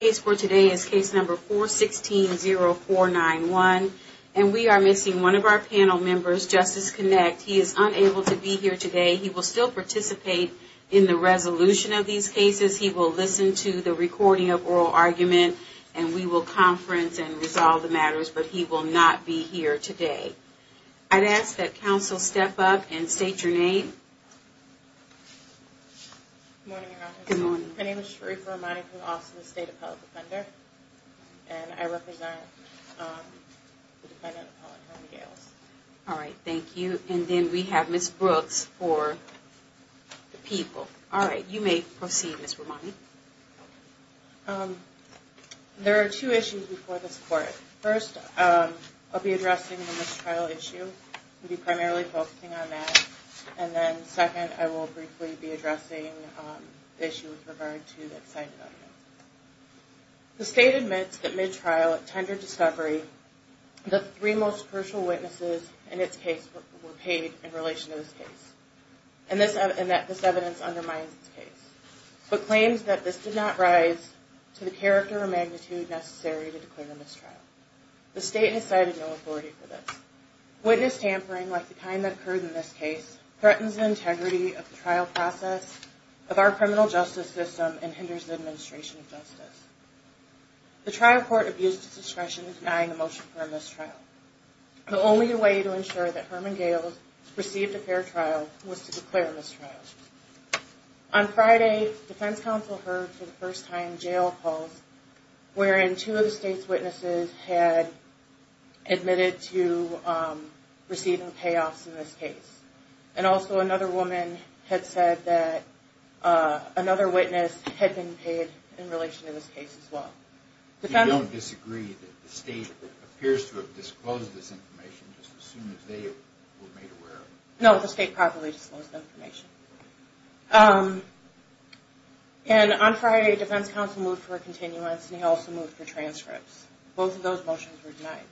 case for today is case number 416-0491, and we are missing one of our panel members, Justice Kinect. He is unable to be here today. He will still participate in the resolution of these cases. He will listen to the recording of oral argument, and we will conference and resolve the matters, but he will not be here today. I'd ask that counsel step up and state your name. Good morning, Your Honor. Good morning. My name is Sharif Ramani from Austin State Appellate Defender, and I represent the defendant appellant, Harvey Gales. All right, thank you. And then we have Ms. Brooks for the people. All right, you may proceed, Ms. Ramani. There are two issues before this court. First, I'll be addressing the mistrial issue. I'll be primarily focusing on that, and then second, I will briefly be addressing the issue with regard to that side of evidence. The state admits that mid-trial, at tender discovery, the three most crucial witnesses in its case were paid in relation to this case, and this evidence undermines its case, but claims that this did not rise to the character or magnitude necessary to declare a mistrial. The state has cited no authority for this. Witness tampering, like the kind that occurred in this case, threatens the integrity of the trial process, of our criminal justice system, and hinders the administration of justice. The trial court abused its discretion in denying a motion for a mistrial. The only way to ensure that Herman Gales received a fair trial was to declare a mistrial. On Friday, defense counsel heard for the first time jail calls wherein two of the state's witnesses had admitted to receiving payoffs in this case, and also another woman had said that another witness had been paid in relation to this case as well. Do you disagree that the state appears to have disclosed this information just as soon as they were made aware of it? And on Friday, defense counsel moved for a continuance, and he also moved for transcripts. Both of those motions were denied,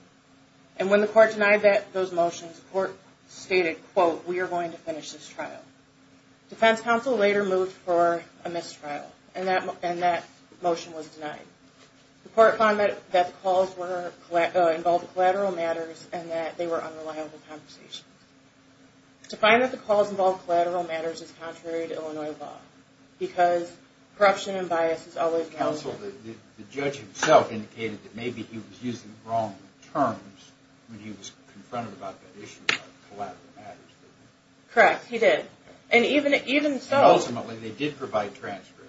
and when the court denied those motions, the court stated, quote, we are going to finish this trial. Defense counsel later moved for a mistrial, and that motion was denied. The court found that the calls involved collateral matters and that they were unreliable conversations. To find that the calls involved collateral matters is contrary to Illinois law, because corruption and bias is always... Counsel, the judge himself indicated that maybe he was using the wrong terms when he was confronted about that issue of collateral matters, didn't he? Correct, he did. And even so... And ultimately, they did provide transcripts.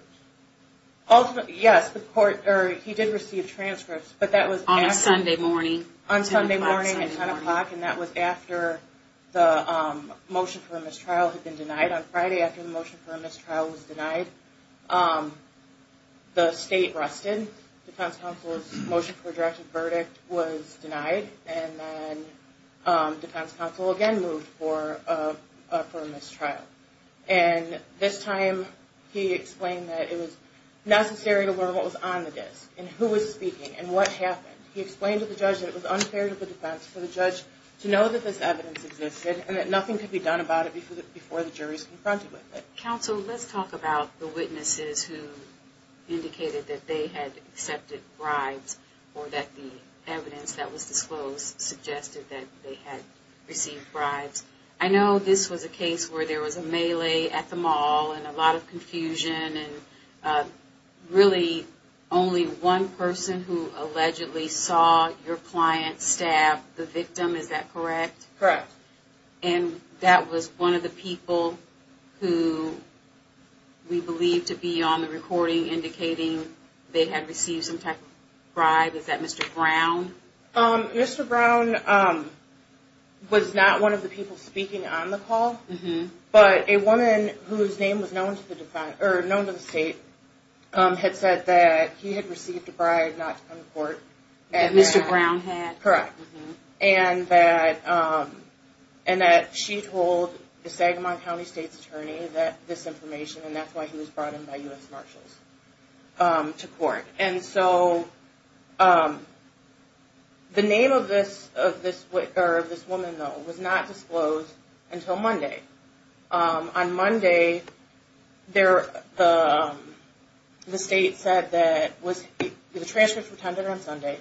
Ultimately, yes, the court, or he did receive transcripts, but that was... On a Sunday morning. On Sunday morning at 10 o'clock, and that was after the motion for a mistrial had been denied. On Friday, after the motion for a mistrial was denied, the state rested. Defense counsel's motion for a directive verdict was denied, and then defense counsel again moved for a mistrial. And this time, he explained that it was necessary to learn what was on the disk, and who was speaking, and what happened. He explained to the judge that it was unfair to the defense, for the judge to know that this evidence existed, and that nothing could be done about it before the jury was confronted with it. Counsel, let's talk about the witnesses who indicated that they had accepted bribes, or that the evidence that was disclosed suggested that they had received bribes. I know this was a case where there was a melee at the mall, and a lot of confusion, and really only one person who allegedly saw your client stab the victim. Is that correct? Correct. And that was one of the people who we believe to be on the recording, indicating they had received some type of bribe. Is that Mr. Brown? Mr. Brown was not one of the people speaking on the call, but a woman whose name was known to the state had said that he had received a bribe not to come to court. That Mr. Brown had? Correct. And that she told the Sagamon County State's attorney this information, and that's why he was brought in by U.S. Marshals to court. And so the name of this woman, though, was not disclosed until Monday. On Monday, the state said that the transcripts were tended on Sunday,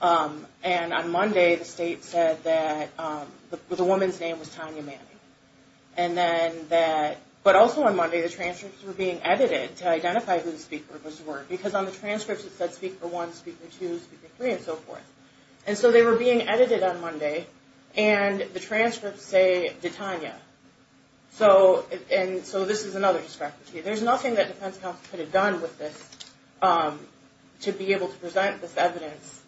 and on Monday the state said that the woman's name was Tanya Manning. But also on Monday, the transcripts were being edited to identify who the speakers were, because on the transcripts it said speaker one, speaker two, speaker three, and so forth. And so they were being edited on Monday, and the transcripts say that Tanya. And so this is another discrepancy. There's nothing that defense counsel could have done with this to be able to present this evidence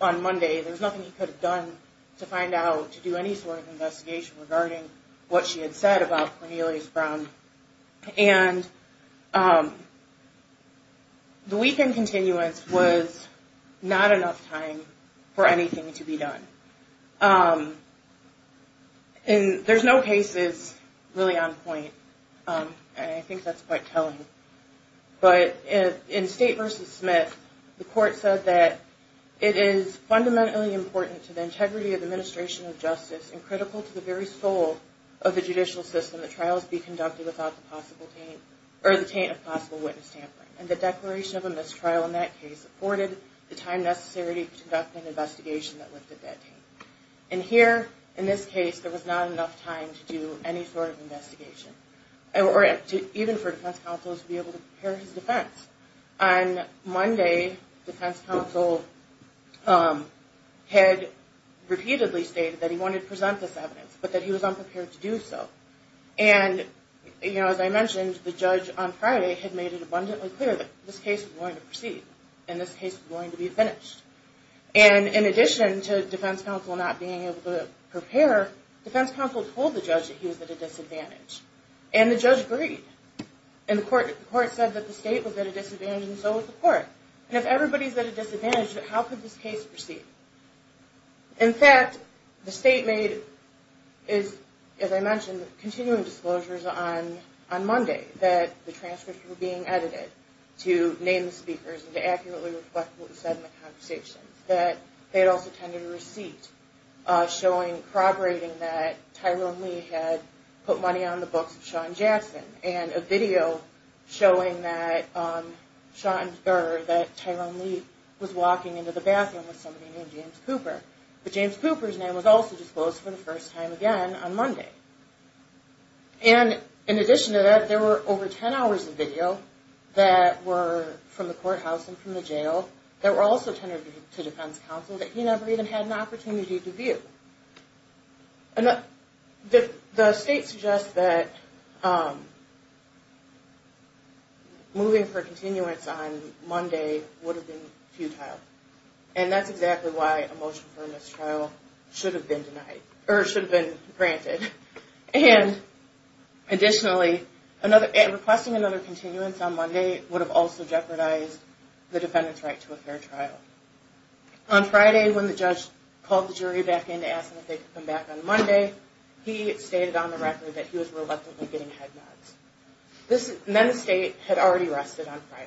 on Monday. There's nothing he could have done to find out, to do any sort of investigation regarding what she had said about Cornelius Brown. And the weekend continuance was not enough time for anything to be done. And there's no cases really on point, and I think that's quite telling. But in State v. Smith, the court said that it is fundamentally important to the integrity of the administration of justice and critical to the very soul of the judicial system that trials be conducted without the possible taint, or the taint of possible witness tampering. And the declaration of a mistrial in that case afforded the time necessary to conduct an investigation that lifted that taint. And here, in this case, there was not enough time to do any sort of investigation, or even for defense counsel to be able to prepare his defense. On Monday, defense counsel had repeatedly stated that he wanted to present this evidence, but that he was unprepared to do so. And, you know, as I mentioned, the judge on Friday had made it abundantly clear that this case was going to proceed, and this case was going to be finished. And in addition to defense counsel not being able to prepare, defense counsel told the judge that he was at a disadvantage. And the judge agreed. And the court said that the State was at a disadvantage, and so was the court. And if everybody's at a disadvantage, how could this case proceed? In fact, the State made, as I mentioned, continuing disclosures on Monday that the transcripts were being edited to name the speakers and to accurately reflect what was said in the conversations, that they had also tended a receipt showing, corroborating that Tyrone Lee had put money on the books of Sean Jackson and a video showing that Tyrone Lee was walking into the bathroom with somebody named James Cooper. But James Cooper's name was also disclosed for the first time again on Monday. And in addition to that, there were over 10 hours of video that were from the courthouse and from the jail that were also tended to defense counsel that he never even had an opportunity to view. The State suggests that moving for continuance on Monday would have been futile. And that's exactly why a motion for a mistrial should have been denied, or should have been granted. And additionally, requesting another continuance on Monday would have also jeopardized the defendant's right to a fair trial. On Friday, when the judge called the jury back in to ask them if they could come back on Monday, he stated on the record that he was reluctantly getting head nods. And then the State had already rested on Friday.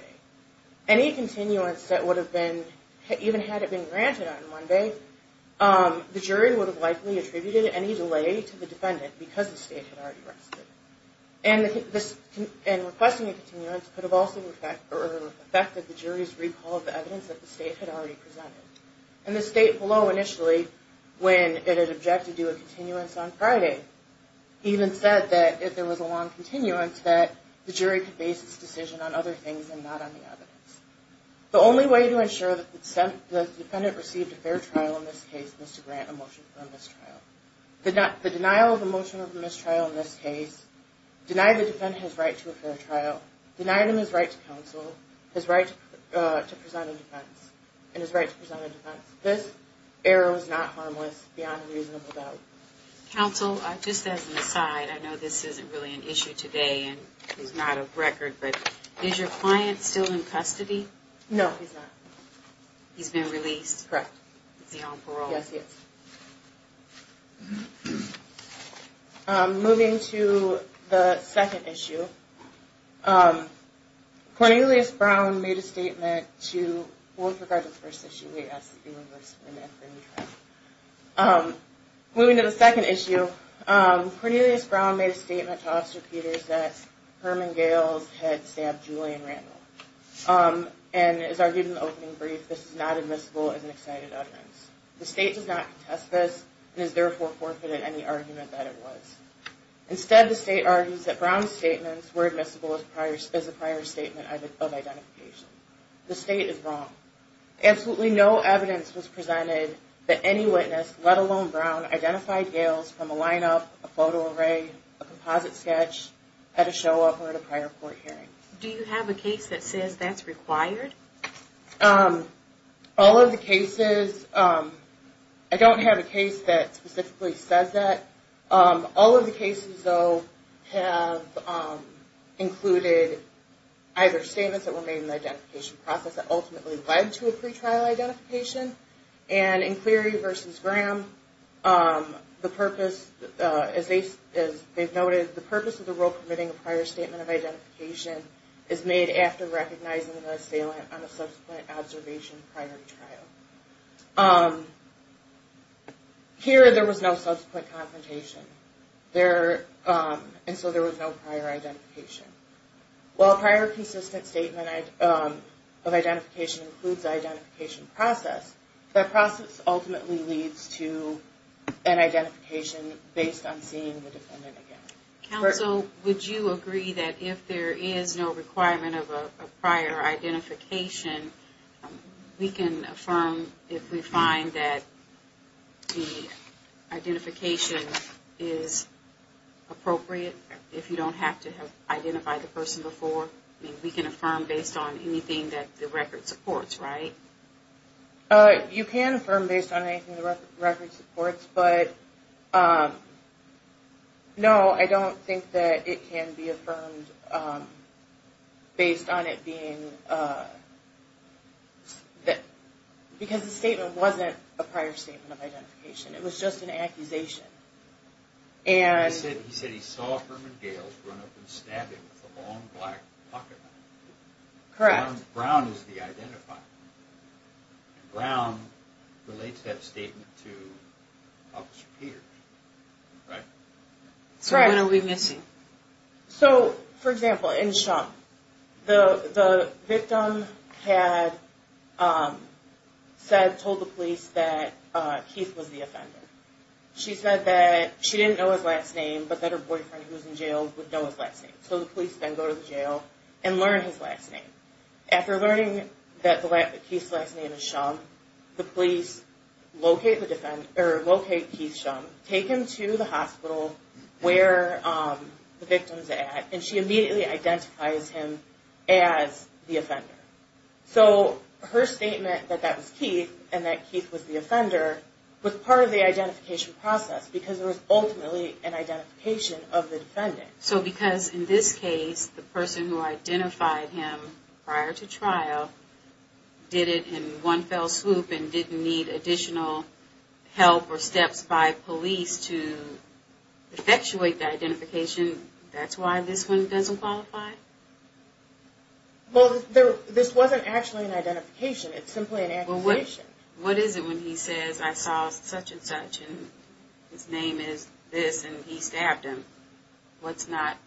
Any continuance that would have been, even had it been granted on Monday, the jury would have likely attributed any delay to the defendant because the State had already rested. And requesting a continuance could have also affected the jury's recall of the evidence that the State had already presented. And the State below initially, when it had objected to a continuance on Friday, even said that if there was a long continuance that the jury could base its decision on other things and not on the evidence. The only way to ensure that the defendant received a fair trial in this case is to grant a motion for a mistrial. The denial of a motion for a mistrial in this case denied the defendant his right to a fair trial, denied him his right to counsel, his right to present a defense, and his right to present a defense. This error was not harmless beyond a reasonable doubt. Counsel, just as an aside, I know this isn't really an issue today and is not a record, but is your client still in custody? No, he's not. He's been released? Correct. Is he on parole? Yes, he is. Moving to the second issue, Cornelius Brown made a statement to, well, with regard to the first issue, we asked that they reverse the name for any trial. Moving to the second issue, Cornelius Brown made a statement to Officer Peters that Herman Gales had stabbed Julian Randall. And as argued in the opening brief, this is not admissible as an excited utterance. The state does not contest this and is therefore forfeited any argument that it was. Instead, the state argues that Brown's statements were admissible as a prior statement of identification. The state is wrong. Absolutely no evidence was presented that any witness, let alone Brown, identified Gales from a lineup, a photo array, a composite sketch, at a show up or at a prior court hearing. Do you have a case that says that's required? All of the cases, I don't have a case that specifically says that. All of the cases, though, have included either statements that were made in the identification process that ultimately led to a pretrial identification. And in Cleary v. Graham, the purpose, as they've noted, the purpose of the rule permitting a prior statement of a subsequent observation prior to trial. Here, there was no subsequent confrontation, and so there was no prior identification. While a prior consistent statement of identification includes the identification process, that process ultimately leads to an identification based on seeing the defendant again. Counsel, would you agree that if there is no requirement of a prior identification, we can affirm if we find that the identification is appropriate if you don't have to have identified the person before? I mean, we can affirm based on anything that the record supports, right? You can affirm based on anything the record supports, but no, I don't think that it can be affirmed based on it being because the statement wasn't a prior statement of identification. It was just an accusation. He said he saw Herman Gales run up and stab him with a long black pocketknife. Brown is the identifier, and Brown relates that statement to Officer Peters, right? So when are we missing? So, for example, in Shum, the victim had said, told the police that Keith was the offender. She said that she didn't know his last name, but that her boyfriend who was in jail would know his last name. So the police then go to the jail and learn his last name. After learning that Keith's last name is Shum, the police locate Keith Shum, take him to the hospital where the victim is at, and she immediately identifies him as the offender. So her statement that that was Keith and that Keith was the offender was part of the identification process So because in this case, the person who identified him prior to trial did it in one fell swoop and didn't need additional help or steps by police to effectuate the identification, that's why this one doesn't qualify? Well, this wasn't actually an identification. It's simply an accusation. What is it when he says, I saw such and such, and his name is this, and he stabbed him? What's not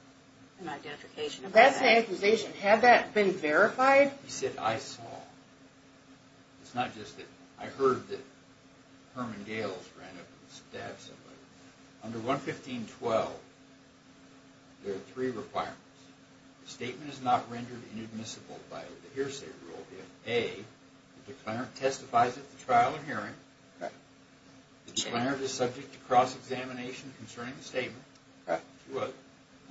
an identification? That's an accusation. Had that been verified? He said, I saw. It's not just that I heard that Herman Gales ran up and stabbed somebody. Under 115.12, there are three requirements. The statement is not rendered inadmissible by the hearsay rule if A, the declarant testifies at the trial and hearing, the declarant is subject to cross-examination concerning the statement, and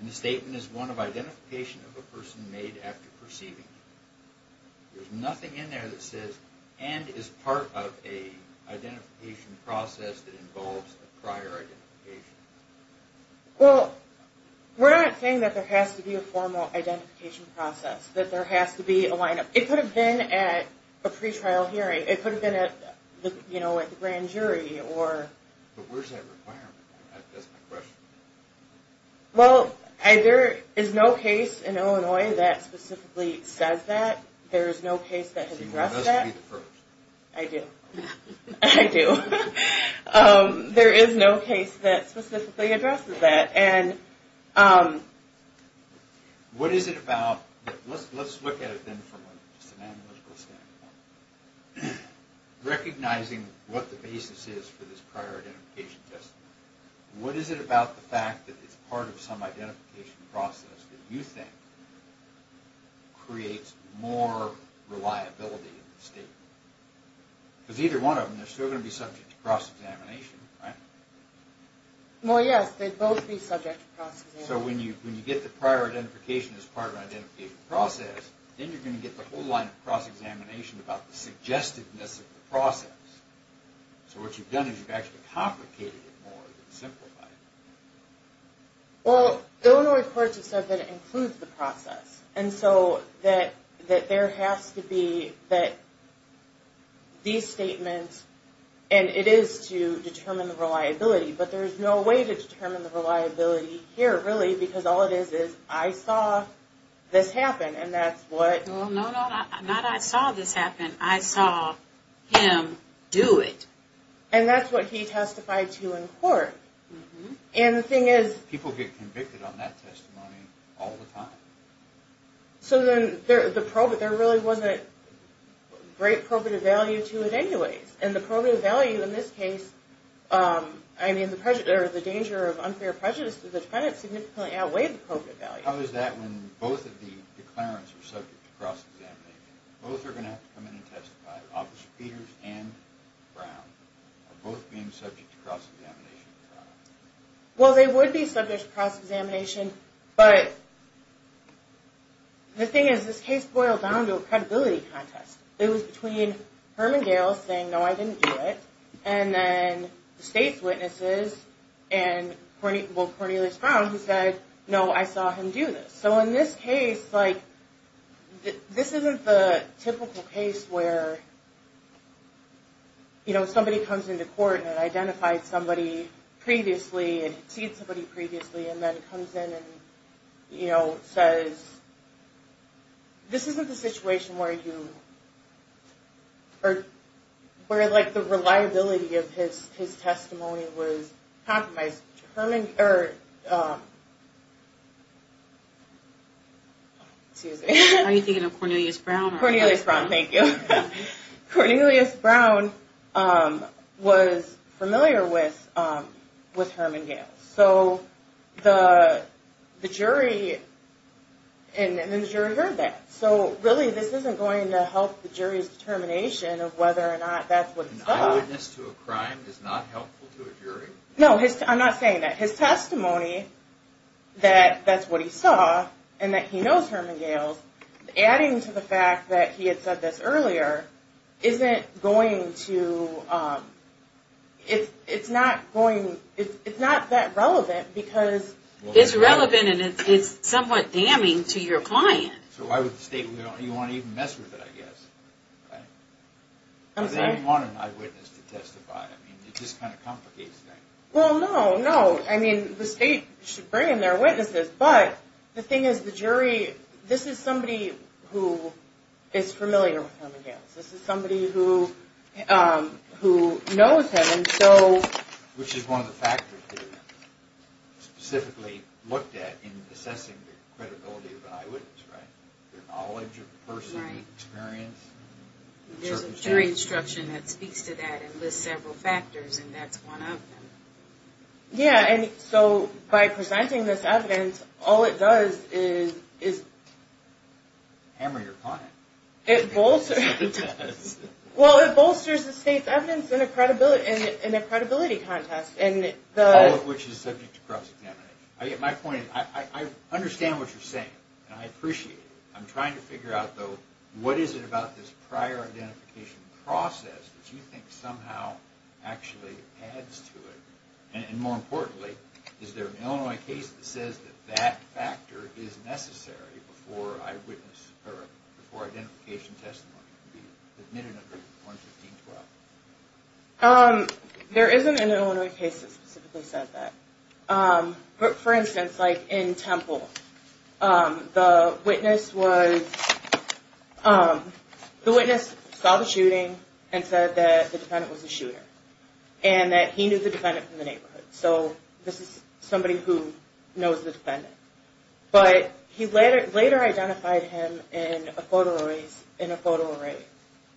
the statement is one of identification of a person made after perceiving him. There's nothing in there that says, and is part of an identification process that involves a prior identification. Well, we're not saying that there has to be a formal identification process, that there has to be a lineup. It could have been at a pretrial hearing. It could have been at the grand jury. But where's that requirement? That's my question. Well, there is no case in Illinois that specifically says that. There is no case that has addressed that. So you must be the first? I do. I do. There is no case that specifically addresses that. What is it about, let's look at it then from an analytical standpoint. Recognizing what the basis is for this prior identification test. What is it about the fact that it's part of some identification process that you think creates more reliability in the statement? Because either one of them, they're still going to be subject to cross-examination, right? Well, yes, they'd both be subject to cross-examination. So when you get the prior identification as part of an identification process, then you're going to get the whole line of cross-examination about the suggestiveness of the process. So what you've done is you've actually complicated it more than simplified it. Well, Illinois courts have said that it includes the process. And so that there has to be that these statements, and it is to determine the reliability, but there's no way to determine the reliability here really because all it is is I saw this happen. And that's what... No, no, not I saw this happen. I saw him do it. And that's what he testified to in court. And the thing is... People get convicted on that testimony all the time. So then there really wasn't great probative value to it anyways. And the probative value in this case, I mean, the danger of unfair prejudice to the defendant significantly outweighed the probative value. How is that when both of the declarants are subject to cross-examination? Both are going to have to come in and testify. Officer Peters and Brown are both being subject to cross-examination. Well, they would be subject to cross-examination, but the thing is this case boiled down to a credibility contest. It was between Herman Gales saying, no, I didn't do it, and then the state's witnesses and Cornelius Brown who said, no, I saw him do this. So in this case, this isn't the typical case where somebody comes into court and identifies somebody previously and sees somebody previously and then comes in and says... This isn't the situation where the reliability of his testimony was compromised. How are you thinking of Cornelius Brown? Cornelius Brown, thank you. Cornelius Brown was familiar with Herman Gales. So the jury heard that. So really this isn't going to help the jury's determination of whether or not that's what he saw. An eyewitness to a crime is not helpful to a jury? No, I'm not saying that. His testimony that that's what he saw and that he knows Herman Gales, adding to the fact that he had said this earlier, isn't going to... It's not that relevant because... It's relevant and it's somewhat damning to your client. So I would state you don't even want to mess with it, I guess. I'm sorry? They don't want an eyewitness to testify. It just kind of complicates things. Well, no, no. The state should bring in their witnesses, but the thing is the jury... This is somebody who is familiar with Herman Gales. This is somebody who knows him and so... Which is one of the factors they specifically looked at in assessing the credibility of an eyewitness, right? Their knowledge of the person, experience. There's a jury instruction that speaks to that and lists several factors and that's one of them. Yeah, and so by presenting this evidence, all it does is... Hammer your client. It bolsters the state's evidence in a credibility contest. All of which is subject to cross-examination. My point is I understand what you're saying and I appreciate it. I'm trying to figure out, though, what is it about this prior identification process that you think somehow actually adds to it, and more importantly, is there an Illinois case that says that that factor is necessary before identification testimony can be admitted under 115.12? There isn't an Illinois case that specifically said that. For instance, in Temple, the witness saw the shooting and said that the defendant was a shooter and that he knew the defendant from the neighborhood. So this is somebody who knows the defendant. But he later identified him in a photo array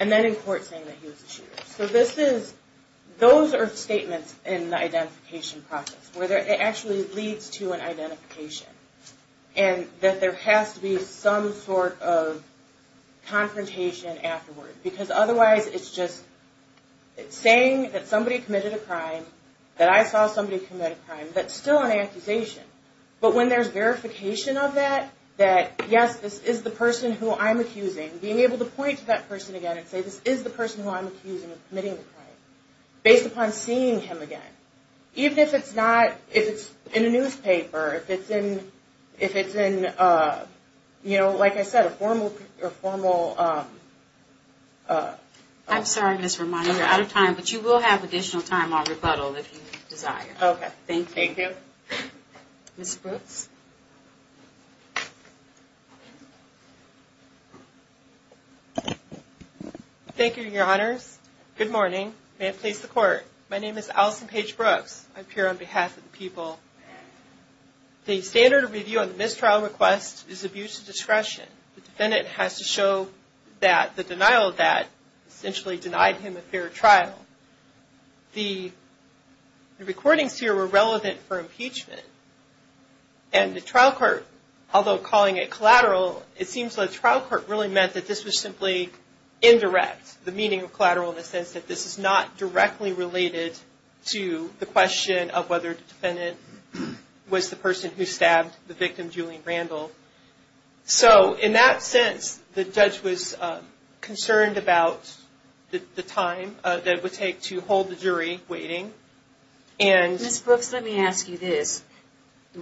and then in court saying that he was a shooter. So those are statements in the identification process where it actually leads to an identification and that there has to be some sort of confrontation afterward. Because otherwise it's just saying that somebody committed a crime, that I saw somebody commit a crime, that's still an accusation. But when there's verification of that, that yes, this is the person who I'm accusing, being able to point to that person again and say, this is the person who I'm accusing of committing the crime, based upon seeing him again. Even if it's in a newspaper, if it's in, like I said, a formal... I'm sorry, Ms. Romano, you're out of time, but you will have additional time on rebuttal if you desire. Okay, thank you. Thank you. Ms. Brooks? Thank you, Your Honors. Good morning. May it please the Court. My name is Allison Paige Brooks. I'm here on behalf of the people. The standard of review on the mistrial request is abuse of discretion. The defendant has to show that the denial of that essentially denied him a fair trial. The recordings here were relevant for impeachment. And the trial court, although calling it collateral, it seems like the trial court really meant that this was simply indirect, the meaning of collateral in the sense that this is not directly related to the question of whether the defendant was the person who stabbed the victim, Julian Randall. So in that sense, the judge was concerned about the time that it would take to hold the jury waiting. Ms. Brooks, let me ask you this.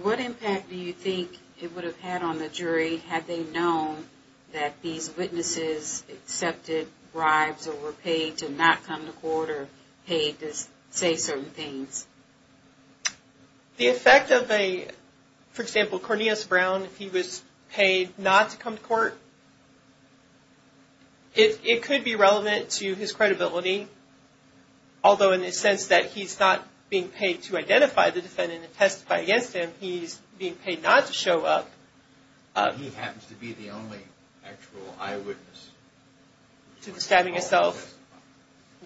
What impact do you think it would have had on the jury had they known that these witnesses accepted bribes or were paid to not come to court or paid to say certain things? The effect of a, for example, Cornelius Brown, if he was paid not to come to court, it could be relevant to his credibility, although in the sense that he's not being paid to identify the defendant and testify against him, he's being paid not to show up. He happens to be the only actual eyewitness. To the stabbing itself.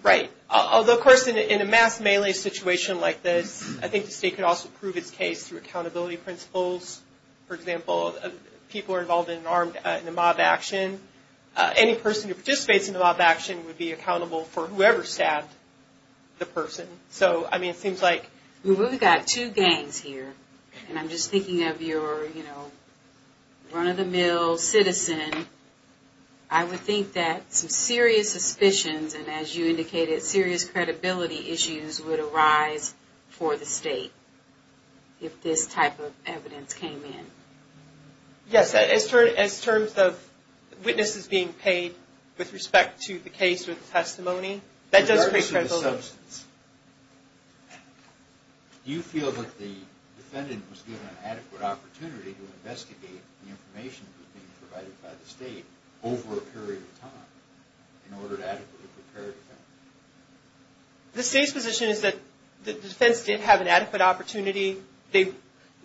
Right. Although, of course, in a mass melee situation like this, I think the state could also prove its case through accountability principles. For example, people are involved in a mob action. Any person who participates in a mob action would be accountable for whoever stabbed the person. So, I mean, it seems like. We've got two gangs here, and I'm just thinking of your, you know, run-of-the-mill citizen. I would think that some serious suspicions, and as you indicated, serious credibility issues, would arise for the state if this type of evidence came in. Yes. As terms of witnesses being paid with respect to the case or the testimony, that does create credibility. Do you feel like the defendant was given an adequate opportunity to investigate the information that was being provided by the state over a period of time? The state's position is that the defense did have an adequate opportunity. The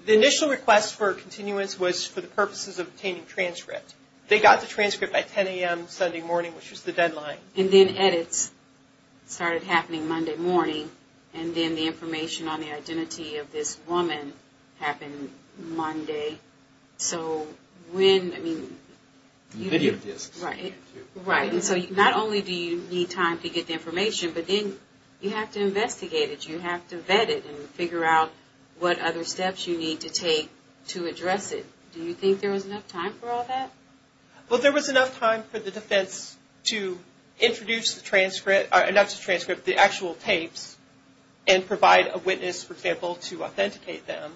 initial request for continuance was for the purposes of obtaining transcript. They got the transcript by 10 a.m. Sunday morning, which was the deadline. And then edits started happening Monday morning, and then the information on the identity of this woman happened Monday. So when, I mean. Video disks. Right. And so not only do you need time to get the information, but then you have to investigate it. You have to vet it and figure out what other steps you need to take to address it. Do you think there was enough time for all that? Well, there was enough time for the defense to introduce the transcript, or enough to transcript the actual tapes and provide a witness, for example, to authenticate them.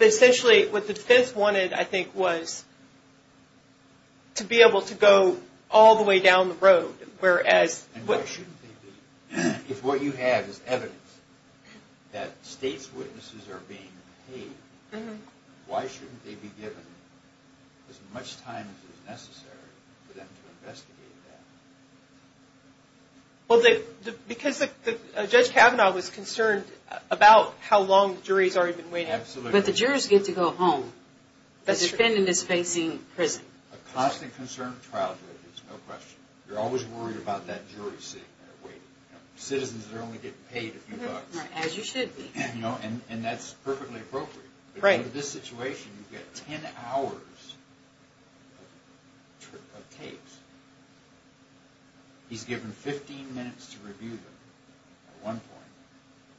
Essentially what the defense wanted, I think, was to be able to go all the way down the road. And why shouldn't they be? If what you have is evidence that state's witnesses are being paid, why shouldn't they be given as much time as is necessary for them to investigate that? Well, because Judge Kavanaugh was concerned about how long the jury's already been waiting. Absolutely. But the jurors get to go home. That's true. The defendant is facing prison. A constantly concerned trial jury, there's no question. You're always worried about that jury sitting there waiting. Citizens are only getting paid a few bucks. As you should be. And that's perfectly appropriate. Right. But in this situation, you get 10 hours of tapes. He's given 15 minutes to review them at one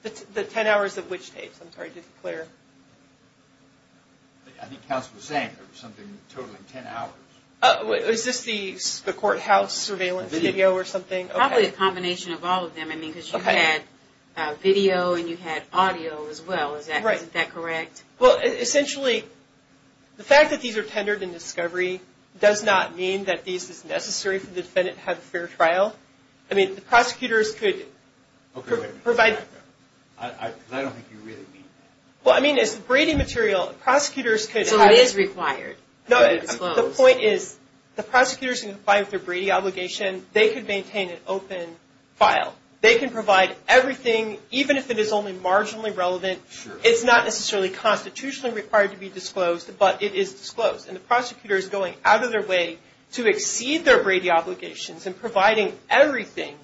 point. The 10 hours of which tapes? I'm sorry, did Claire? I think Counsel was saying there was something totaling 10 hours. Is this the courthouse surveillance video or something? Probably a combination of all of them. I mean, because you had video and you had audio as well. Right. Isn't that correct? Well, essentially, the fact that these are tendered in discovery does not mean that these are necessary for the defendant to have a fair trial. I mean, the prosecutors could provide. I don't think you really mean that. Well, I mean, it's the Brady material. Prosecutors could. So it is required to be disclosed. No, the point is the prosecutors can comply with their Brady obligation. They could maintain an open file. They can provide everything, even if it is only marginally relevant. It's not necessarily constitutionally required to be disclosed, And the prosecutor is going out of their way to exceed their Brady obligations in providing everything.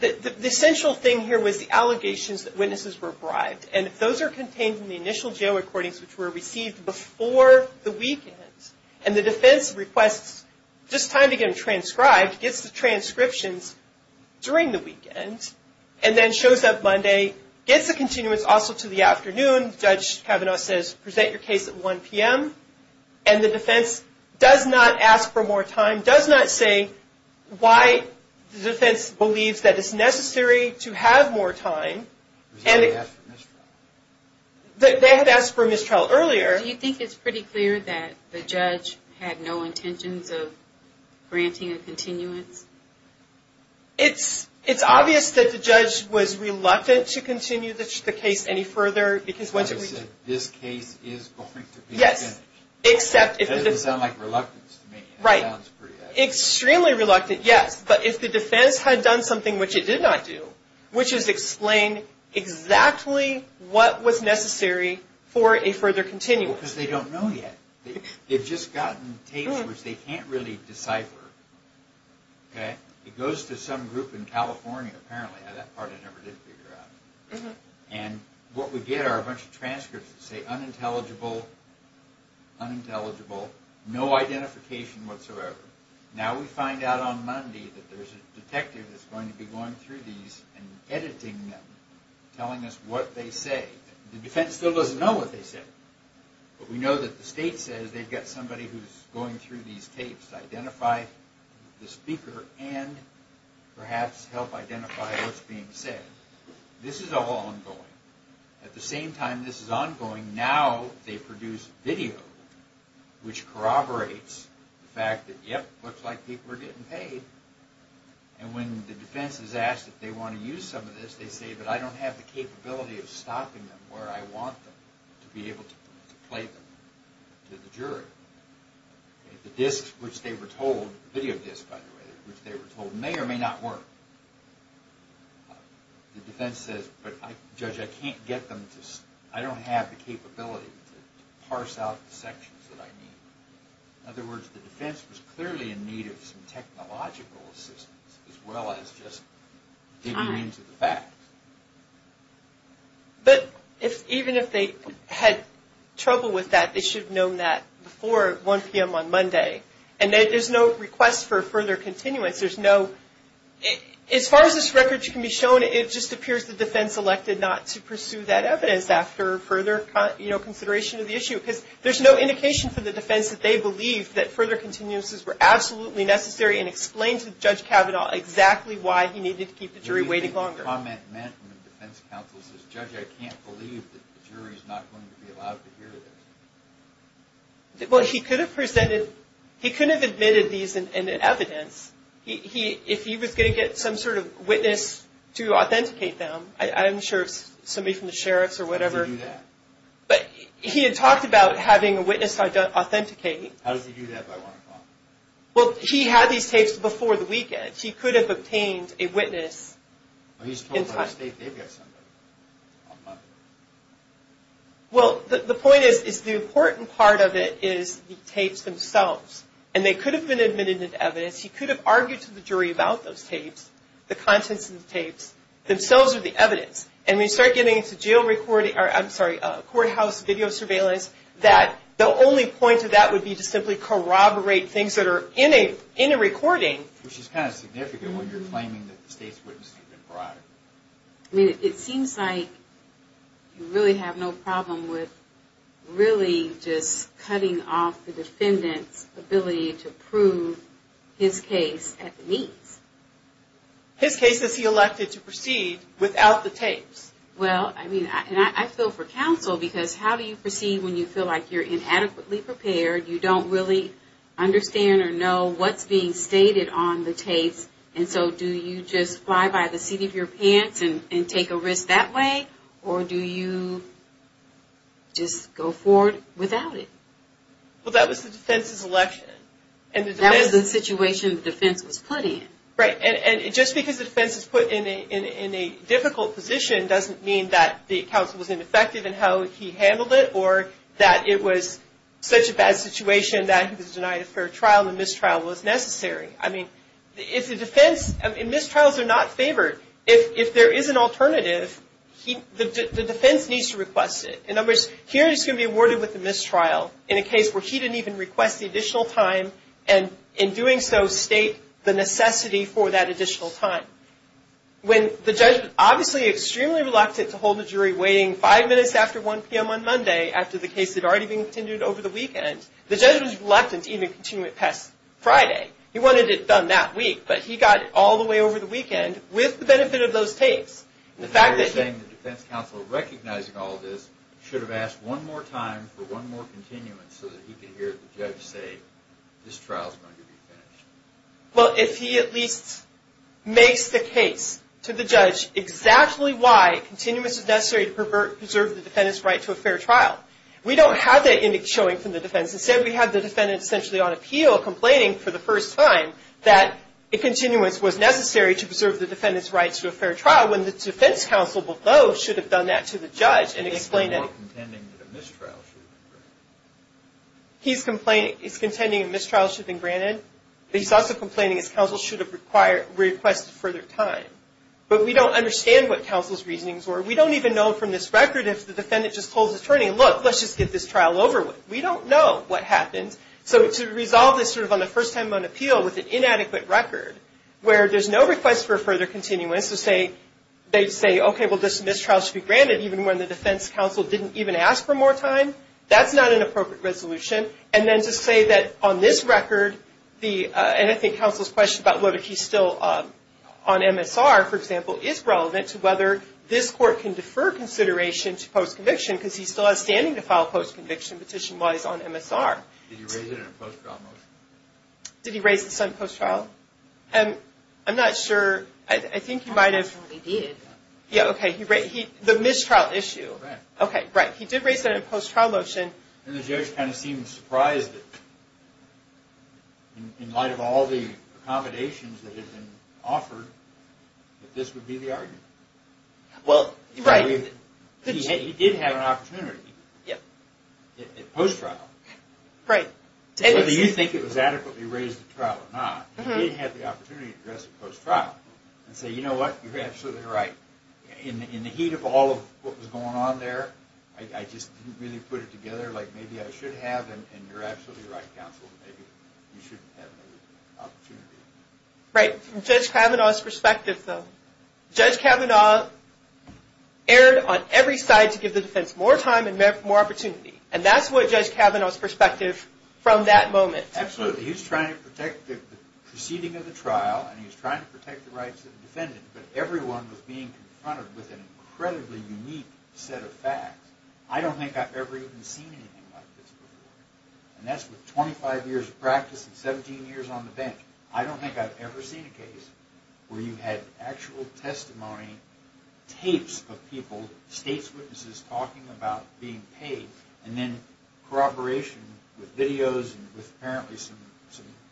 The essential thing here was the allegations that witnesses were bribed. And those are contained in the initial jail recordings, which were received before the weekend. And the defense requests just time to get them transcribed, gets the transcriptions during the weekend, and then shows up Monday, gets the continuance also to the afternoon. Judge Kavanaugh says, present your case at 1 p.m. And the defense does not ask for more time, does not say why the defense believes that it's necessary to have more time. They had asked for mistrial. They had asked for mistrial earlier. Do you think it's pretty clear that the judge had no intentions of granting a continuance? It's obvious that the judge was reluctant to continue the case any further. This case is going to be finished. Yes. That doesn't sound like reluctance to me. Right. Extremely reluctant, yes. But if the defense had done something which it did not do, which is explain exactly what was necessary for a further continuance. Because they don't know yet. They've just gotten tapes which they can't really decipher. It goes to some group in California, apparently. That part I never did figure out. And what we get are a bunch of transcripts that say unintelligible, unintelligible, no identification whatsoever. Now we find out on Monday that there's a detective that's going to be going through these and editing them, telling us what they say. The defense still doesn't know what they say. But we know that the state says they've got somebody who's going through these tapes to identify the speaker and perhaps help identify what's being said. This is all ongoing. At the same time this is ongoing, and now they produce video which corroborates the fact that, yep, looks like people are getting paid. And when the defense is asked if they want to use some of this, they say, but I don't have the capability of stopping them where I want them to be able to play them to the jury. The disks which they were told, video disks by the way, which they were told may or may not work. The defense says, but Judge, I can't get them to, I don't have the capability to parse out the sections that I need. In other words, the defense was clearly in need of some technological assistance as well as just digging into the facts. But even if they had trouble with that, they should have known that before 1 p.m. on Monday. And there's no request for further continuance. As far as this record can be shown, it just appears the defense elected not to pursue that evidence after further consideration of the issue. Because there's no indication for the defense that they believe that further continuances were absolutely necessary and explained to Judge Kavanaugh exactly why he needed to keep the jury waiting longer. What do you think the comment meant when the defense counsel says, Judge, I can't believe that the jury is not going to be allowed to hear this? Well, he could have presented, he could have admitted these in evidence. If he was going to get some sort of witness to authenticate them, I'm sure it's somebody from the sheriffs or whatever. How does he do that? He had talked about having a witness to authenticate. How does he do that by 1 o'clock? Well, he had these tapes before the weekend. He could have obtained a witness. He's told by the state they've got somebody on Monday. Well, the point is the important part of it is the tapes themselves. And they could have been admitted into evidence. He could have argued to the jury about those tapes, the contents of the tapes, themselves are the evidence. And we start getting into jail recording, I'm sorry, courthouse video surveillance, that the only point of that would be to simply corroborate things that are in a recording. Which is kind of significant when you're claiming that the state's witness could have been brought. I mean, it seems like you really have no problem with really just cutting off the defendant's ability to prove his case at the meets. His case is he elected to proceed without the tapes. Well, I mean, I feel for counsel because how do you proceed when you feel like you're inadequately prepared, you don't really understand or know what's being said. Do you put your hands and take a risk that way? Or do you just go forward without it? Well, that was the defense's election. That was the situation the defense was put in. Right. And just because the defense is put in a difficult position doesn't mean that the counsel was ineffective in how he handled it or that it was such a bad situation that he was denied a fair trial and mistrial was necessary. I mean, if the defense and mistrials are not favored, if there is an alternative, the defense needs to request it. In other words, here he's going to be awarded with a mistrial in a case where he didn't even request the additional time and in doing so state the necessity for that additional time. When the judge was obviously extremely reluctant to hold the jury waiting five minutes after 1 p.m. on Monday after the case had already been contended over the weekend, the judge was reluctant to even continue it past Friday. He wanted it done that week, but he got it all the way over the weekend with the benefit of those tapes. And the fact that he... You're saying the defense counsel recognizing all this should have asked one more time for one more continuance so that he could hear the judge say, this trial is going to be finished. Well, if he at least makes the case to the judge exactly why continuance is necessary to preserve the defendant's right to a fair trial. We don't have that showing from the defense. Instead we have the defendant essentially on appeal complaining for the first time that a continuance was necessary to preserve the defendant's right to a fair trial when the defense counsel below should have done that to the judge and explained it. He's contending that a mistrial should have been granted. He's contending a mistrial should have been granted, but he's also complaining his counsel should have requested further time. But we don't understand what counsel's reasonings were. We don't even know from this record if the defendant just told his attorney, look, let's just get this trial over with. We don't know what happened. So to resolve this sort of on the first time on appeal with an inadequate record where there's no request for a further continuance to say, they say, okay, well this mistrial should be granted even when the defense counsel didn't even ask for more time, that's not an appropriate resolution. And then to say that on this record the, and I think counsel's question about whether he's still on MSR, for example, is relevant to whether this court can defer consideration to post-conviction because he still has standing to file post-conviction petition while he's on MSR. Did he raise it in a post-trial motion? Did he raise this on post-trial? I'm not sure. I think he might have. He did. Yeah, okay. The mistrial issue. Right. Okay, right. He did raise that in a post-trial motion. And the judge kind of seemed surprised that in light of all the accommodations that had been offered that this would be the argument. Well, right. He did have an opportunity at post-trial. Right. Whether you think it was adequately raised at trial or not, he did have the opportunity to address it post-trial and say, you know what, you're absolutely right. In the heat of all of what was going on there, I just didn't really put it together like maybe I should have and you're absolutely right, counsel. Maybe you shouldn't have the opportunity. Right. From Judge Kavanaugh's perspective, though, Judge Kavanaugh erred on every side to give the defense more time and more opportunity. And that's what Judge Kavanaugh's perspective from that moment. Absolutely. He was trying to protect the proceeding of the trial and he was trying to protect the rights of the defendant, but everyone was being confronted with an incredibly unique set of facts. I don't think I've ever even seen anything like this before. And that's with 25 years of practice and 17 years on the bench. I don't think I've ever seen a case where you had actual testimony, tapes of people, state's witnesses talking about being paid, and then corroboration with videos and apparently some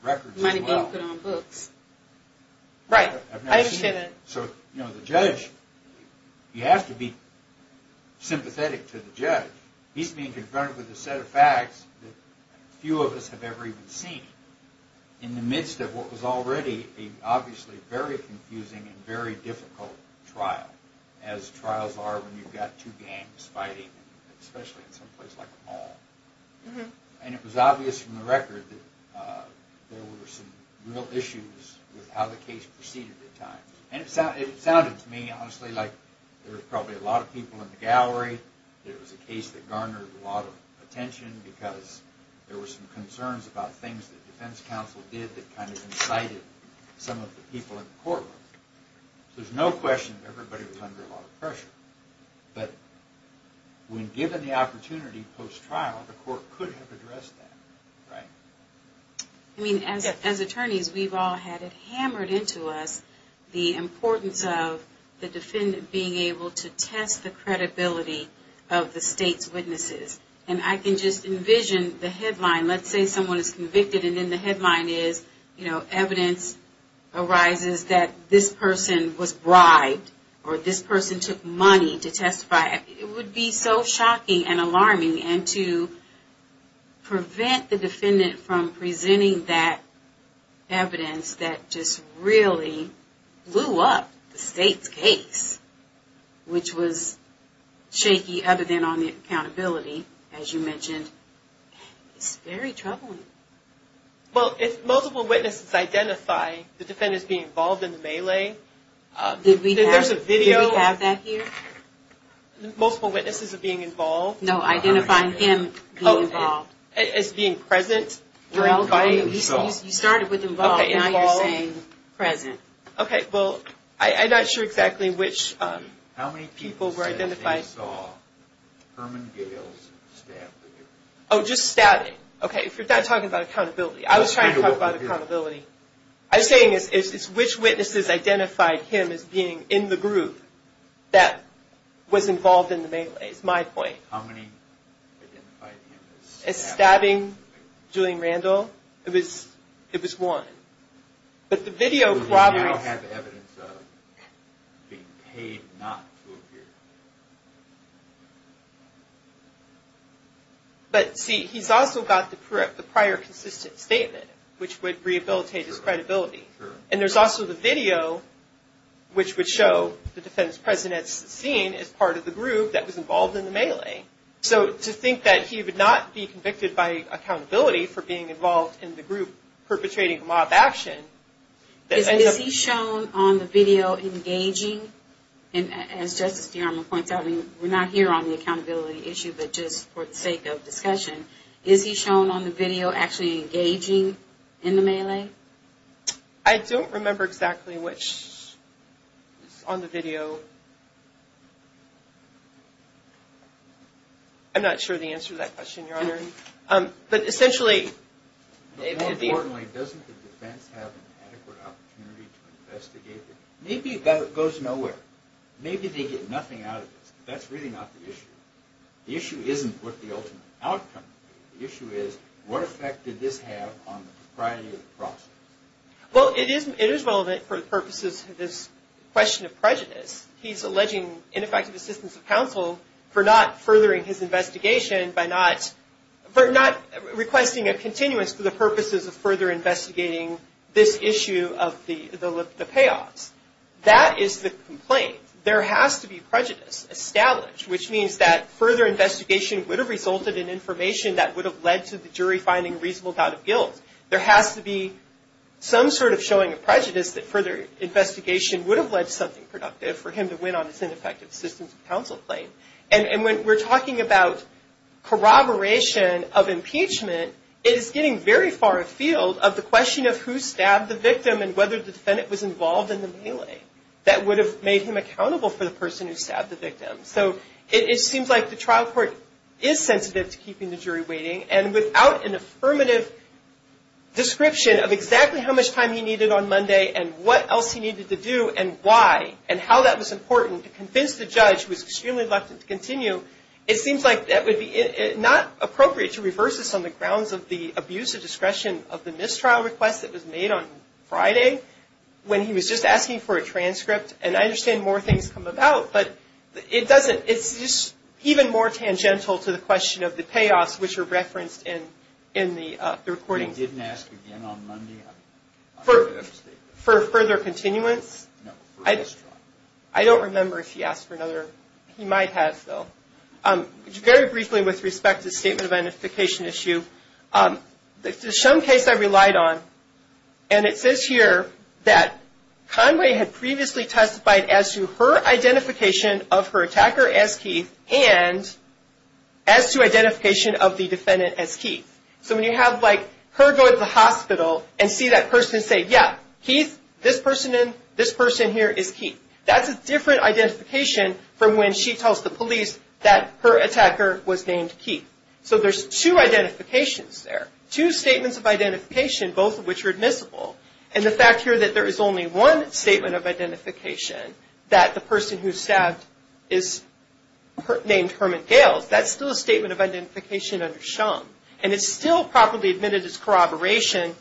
records as well. Money being put on books. Right. I've never seen that. So, you know, the judge, you have to be sympathetic to the judge. He's being confronted with a set of facts that few of us have ever even seen. In the midst of what was already a obviously very confusing and very difficult trial, as trials are when you've got two gangs fighting, especially in some place like a mall. And it was obvious from the record that there were some real issues with how the case proceeded at times. And it sounded to me, honestly, like there were probably a lot of people in the gallery, there was a case that garnered a lot of attention because there were some concerns about things that defense counsel did that kind of incited some of the people in the courtroom. So there's no question that everybody was under a lot of pressure. But when given the opportunity post-trial, the court could have addressed that, right? I mean, as attorneys, we've all had it hammered into us, the importance of the defendant being able to test the credibility of the state's witnesses. And I can just envision the headline. Let's say someone is convicted and then the headline is, you know, evidence arises that this person was bribed or this person took money to testify. It would be so shocking and alarming. And to prevent the defendant from presenting that evidence that just really blew up the state's case, which was shaky other than on the accountability, as you mentioned, it's very troubling. Well, if multiple witnesses identify the defendant as being involved in the melee, did we have that here? Multiple witnesses of being involved? No, identifying him being involved. As being present? You started with involved, now you're saying present. Okay, well, I'm not sure exactly which people were identified. I saw Herman Gales stabbed. Oh, just stabbing. Okay, if you're talking about accountability. I was trying to talk about accountability. I'm saying it's which witnesses identified him as being in the group that was involved in the melee is my point. How many identified him as stabbing? As stabbing Julian Randall? It was one. But the video corroborates. Would he now have evidence of being paid not to appear? But, see, he's also got the prior consistent statement, which would rehabilitate his credibility. And there's also the video, which would show the defendant's presence seen as part of the group that was involved in the melee. So to think that he would not be convicted by accountability for being involved in the group perpetrating mob action. Is he shown on the video engaging? And as Justice DeArmond points out, we're not here on the accountability issue, but just for the sake of discussion. Is he shown on the video actually engaging in the melee? I don't remember exactly which is on the video. I'm not sure the answer to that question, Your Honor. But essentially it would be. More importantly, doesn't the defense have an adequate opportunity to investigate him? Maybe it goes nowhere. Maybe they get nothing out of this. But that's really not the issue. The issue isn't what the ultimate outcome. The issue is what effect did this have on the propriety of the process? Well, it is relevant for the purposes of this question of prejudice. He's alleging ineffective assistance of counsel for not furthering his investigation by not, for not requesting a continuous for the purposes of further investigating this issue of the payoffs. That is the complaint. There has to be prejudice established, which means that further investigation would have resulted in information that would have led to the jury finding reasonable doubt of guilt. There has to be some sort of showing of prejudice that further investigation would have led to something productive for him to win on this ineffective assistance of counsel claim. And when we're talking about corroboration of impeachment, it is getting very far afield of the question of who stabbed the victim and whether the defendant was involved in the melee. That would have made him accountable for the person who stabbed the victim. So it seems like the trial court is sensitive to keeping the jury waiting. And without an affirmative description of exactly how much time he needed on Monday and what else he needed to do and why and how that was important to convince the judge, who is extremely reluctant to continue, it seems like that would be not appropriate to reverse this on the grounds of the abuse of discretion of the mistrial request that was made on Friday when he was just asking for a transcript. And I understand more things come about, but it doesn't. It's just even more tangential to the question of the payoffs, which are referenced in the recording. He didn't ask again on Monday? For further continuance? No, for mistrial. I don't remember if he asked for another. He might have, though. Very briefly with respect to the statement of identification issue, there's some case I relied on, and it says here that Conway had previously testified as to her identification of her attacker as Keith and as to identification of the defendant as Keith. So when you have, like, her going to the hospital and see that person say, yeah, Keith, this person here is Keith, that's a different identification from when she tells the police that her attacker was named Keith. So there's two identifications there, two statements of identification, both of which are admissible. And the fact here that there is only one statement of identification, that the person who's stabbed is named Herman Gales, that's still a statement of identification under SHUM. And it's still properly admitted as corroboration.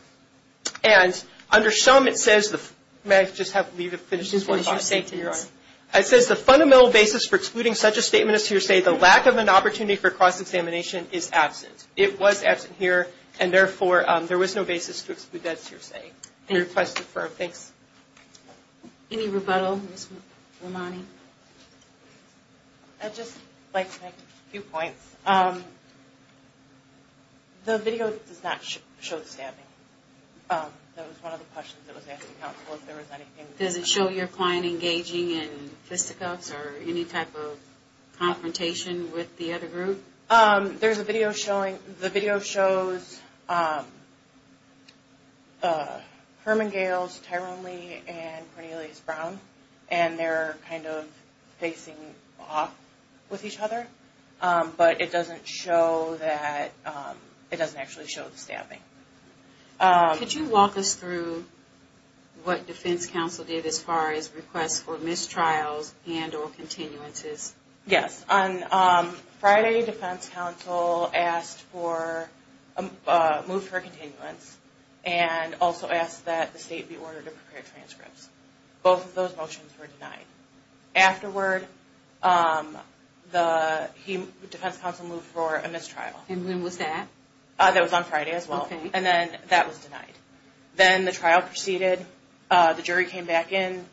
And under SHUM, it says the fundamental basis for excluding such a statement as to your say, the lack of an opportunity for cross-examination is absent. It was absent here, and therefore, there was no basis to exclude that to your say. Any rebuttal, Ms. Romani? I'd just like to make a few points. The video does not show the stabbing. That was one of the questions that was asked to counsel, if there was anything. Does it show your client engaging in fisticuffs or any type of confrontation with the other group? There's a video showing, the video shows Herman Gales, Tyrone Lee, and Cornelius Brown, and they're kind of facing off with each other. But it doesn't show that, it doesn't actually show the stabbing. Could you walk us through what defense counsel did as far as requests for mistrials and or continuances? Yes, on Friday, defense counsel asked for a move for a continuance, and also asked that the state be ordered to prepare transcripts. Both of those motions were denied. Afterward, the defense counsel moved for a mistrial. And when was that? That was on Friday as well, and then that was denied. Then the trial proceeded. The jury came back in.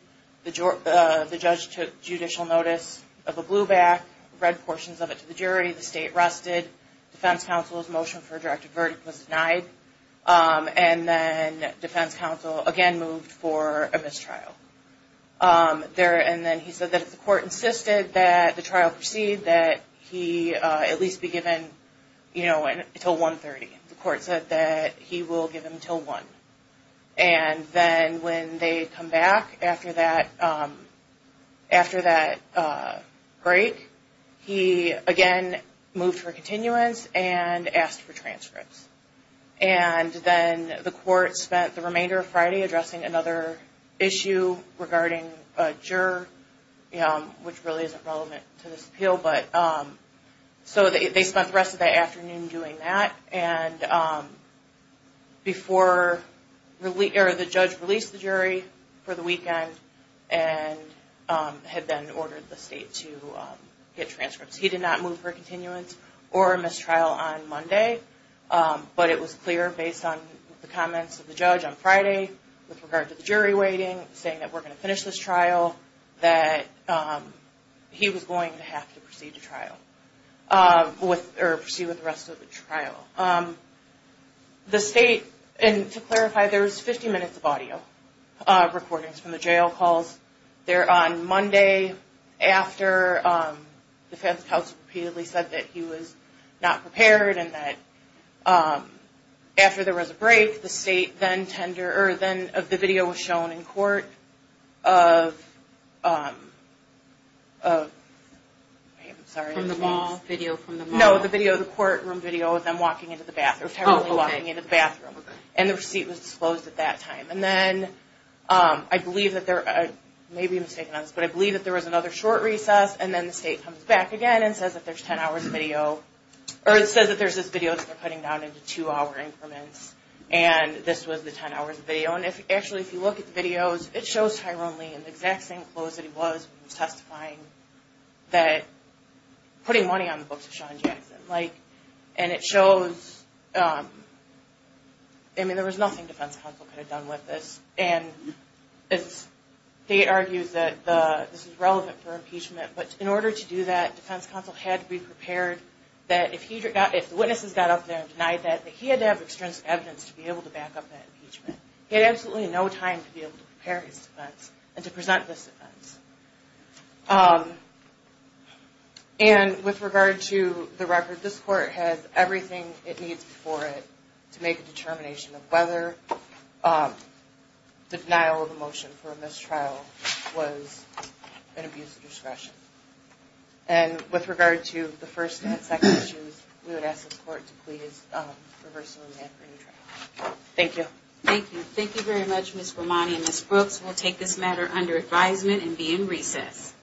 The judge took judicial notice of a blue back, read portions of it to the jury. The state rested. Defense counsel's motion for a directive verdict was denied, and then defense counsel again moved for a mistrial. And then he said that if the court insisted that the trial proceed, that he at least be given until 1.30. The court said that he will give him until 1.00. And then when they come back after that break, he again moved for a continuance and asked for transcripts. And then the court spent the remainder of Friday addressing another issue regarding a juror, which really isn't relevant to this appeal. So they spent the rest of that afternoon doing that. And the judge released the jury for the weekend and had then ordered the state to get transcripts. He did not move for a continuance or a mistrial on Monday, but it was clear based on the comments of the judge on Friday with regard to the jury waiting, saying that we're going to finish this trial, that he was going to have to proceed with the rest of the trial. The state, and to clarify, there was 50 minutes of audio recordings from the jail calls. They're on Monday after defense counsel repeatedly said that he was not prepared and that after there was a break, the video was shown in court of them walking into the bathroom. And the receipt was disclosed at that time. And then I believe that there was another short recess, and then the state comes back again and says that there's 10 hours of video, or it says that there's this video that they're cutting down into two-hour increments, and this was the 10 hours of video. And actually, if you look at the videos, it shows Tyrone Lee in the exact same clothes that he was when he was testifying, putting money on the books of Sean Jackson. And it shows, I mean, there was nothing defense counsel could have done with this. And the state argues that this is relevant for impeachment. But in order to do that, defense counsel had to be prepared that if the witnesses got up there and denied that, that he had to have extrinsic evidence to be able to back up that impeachment. He had absolutely no time to be able to prepare his defense and to present this defense. And with regard to the record, this court has everything it needs for it to make a determination of whether the denial of a motion for a mistrial was an abuse of discretion. And with regard to the first and second issues, we would ask the court to please reverse the ruling. Thank you. Thank you. Thank you very much, Ms. Romani and Ms. Brooks. We'll take this matter under advisement and be in recess.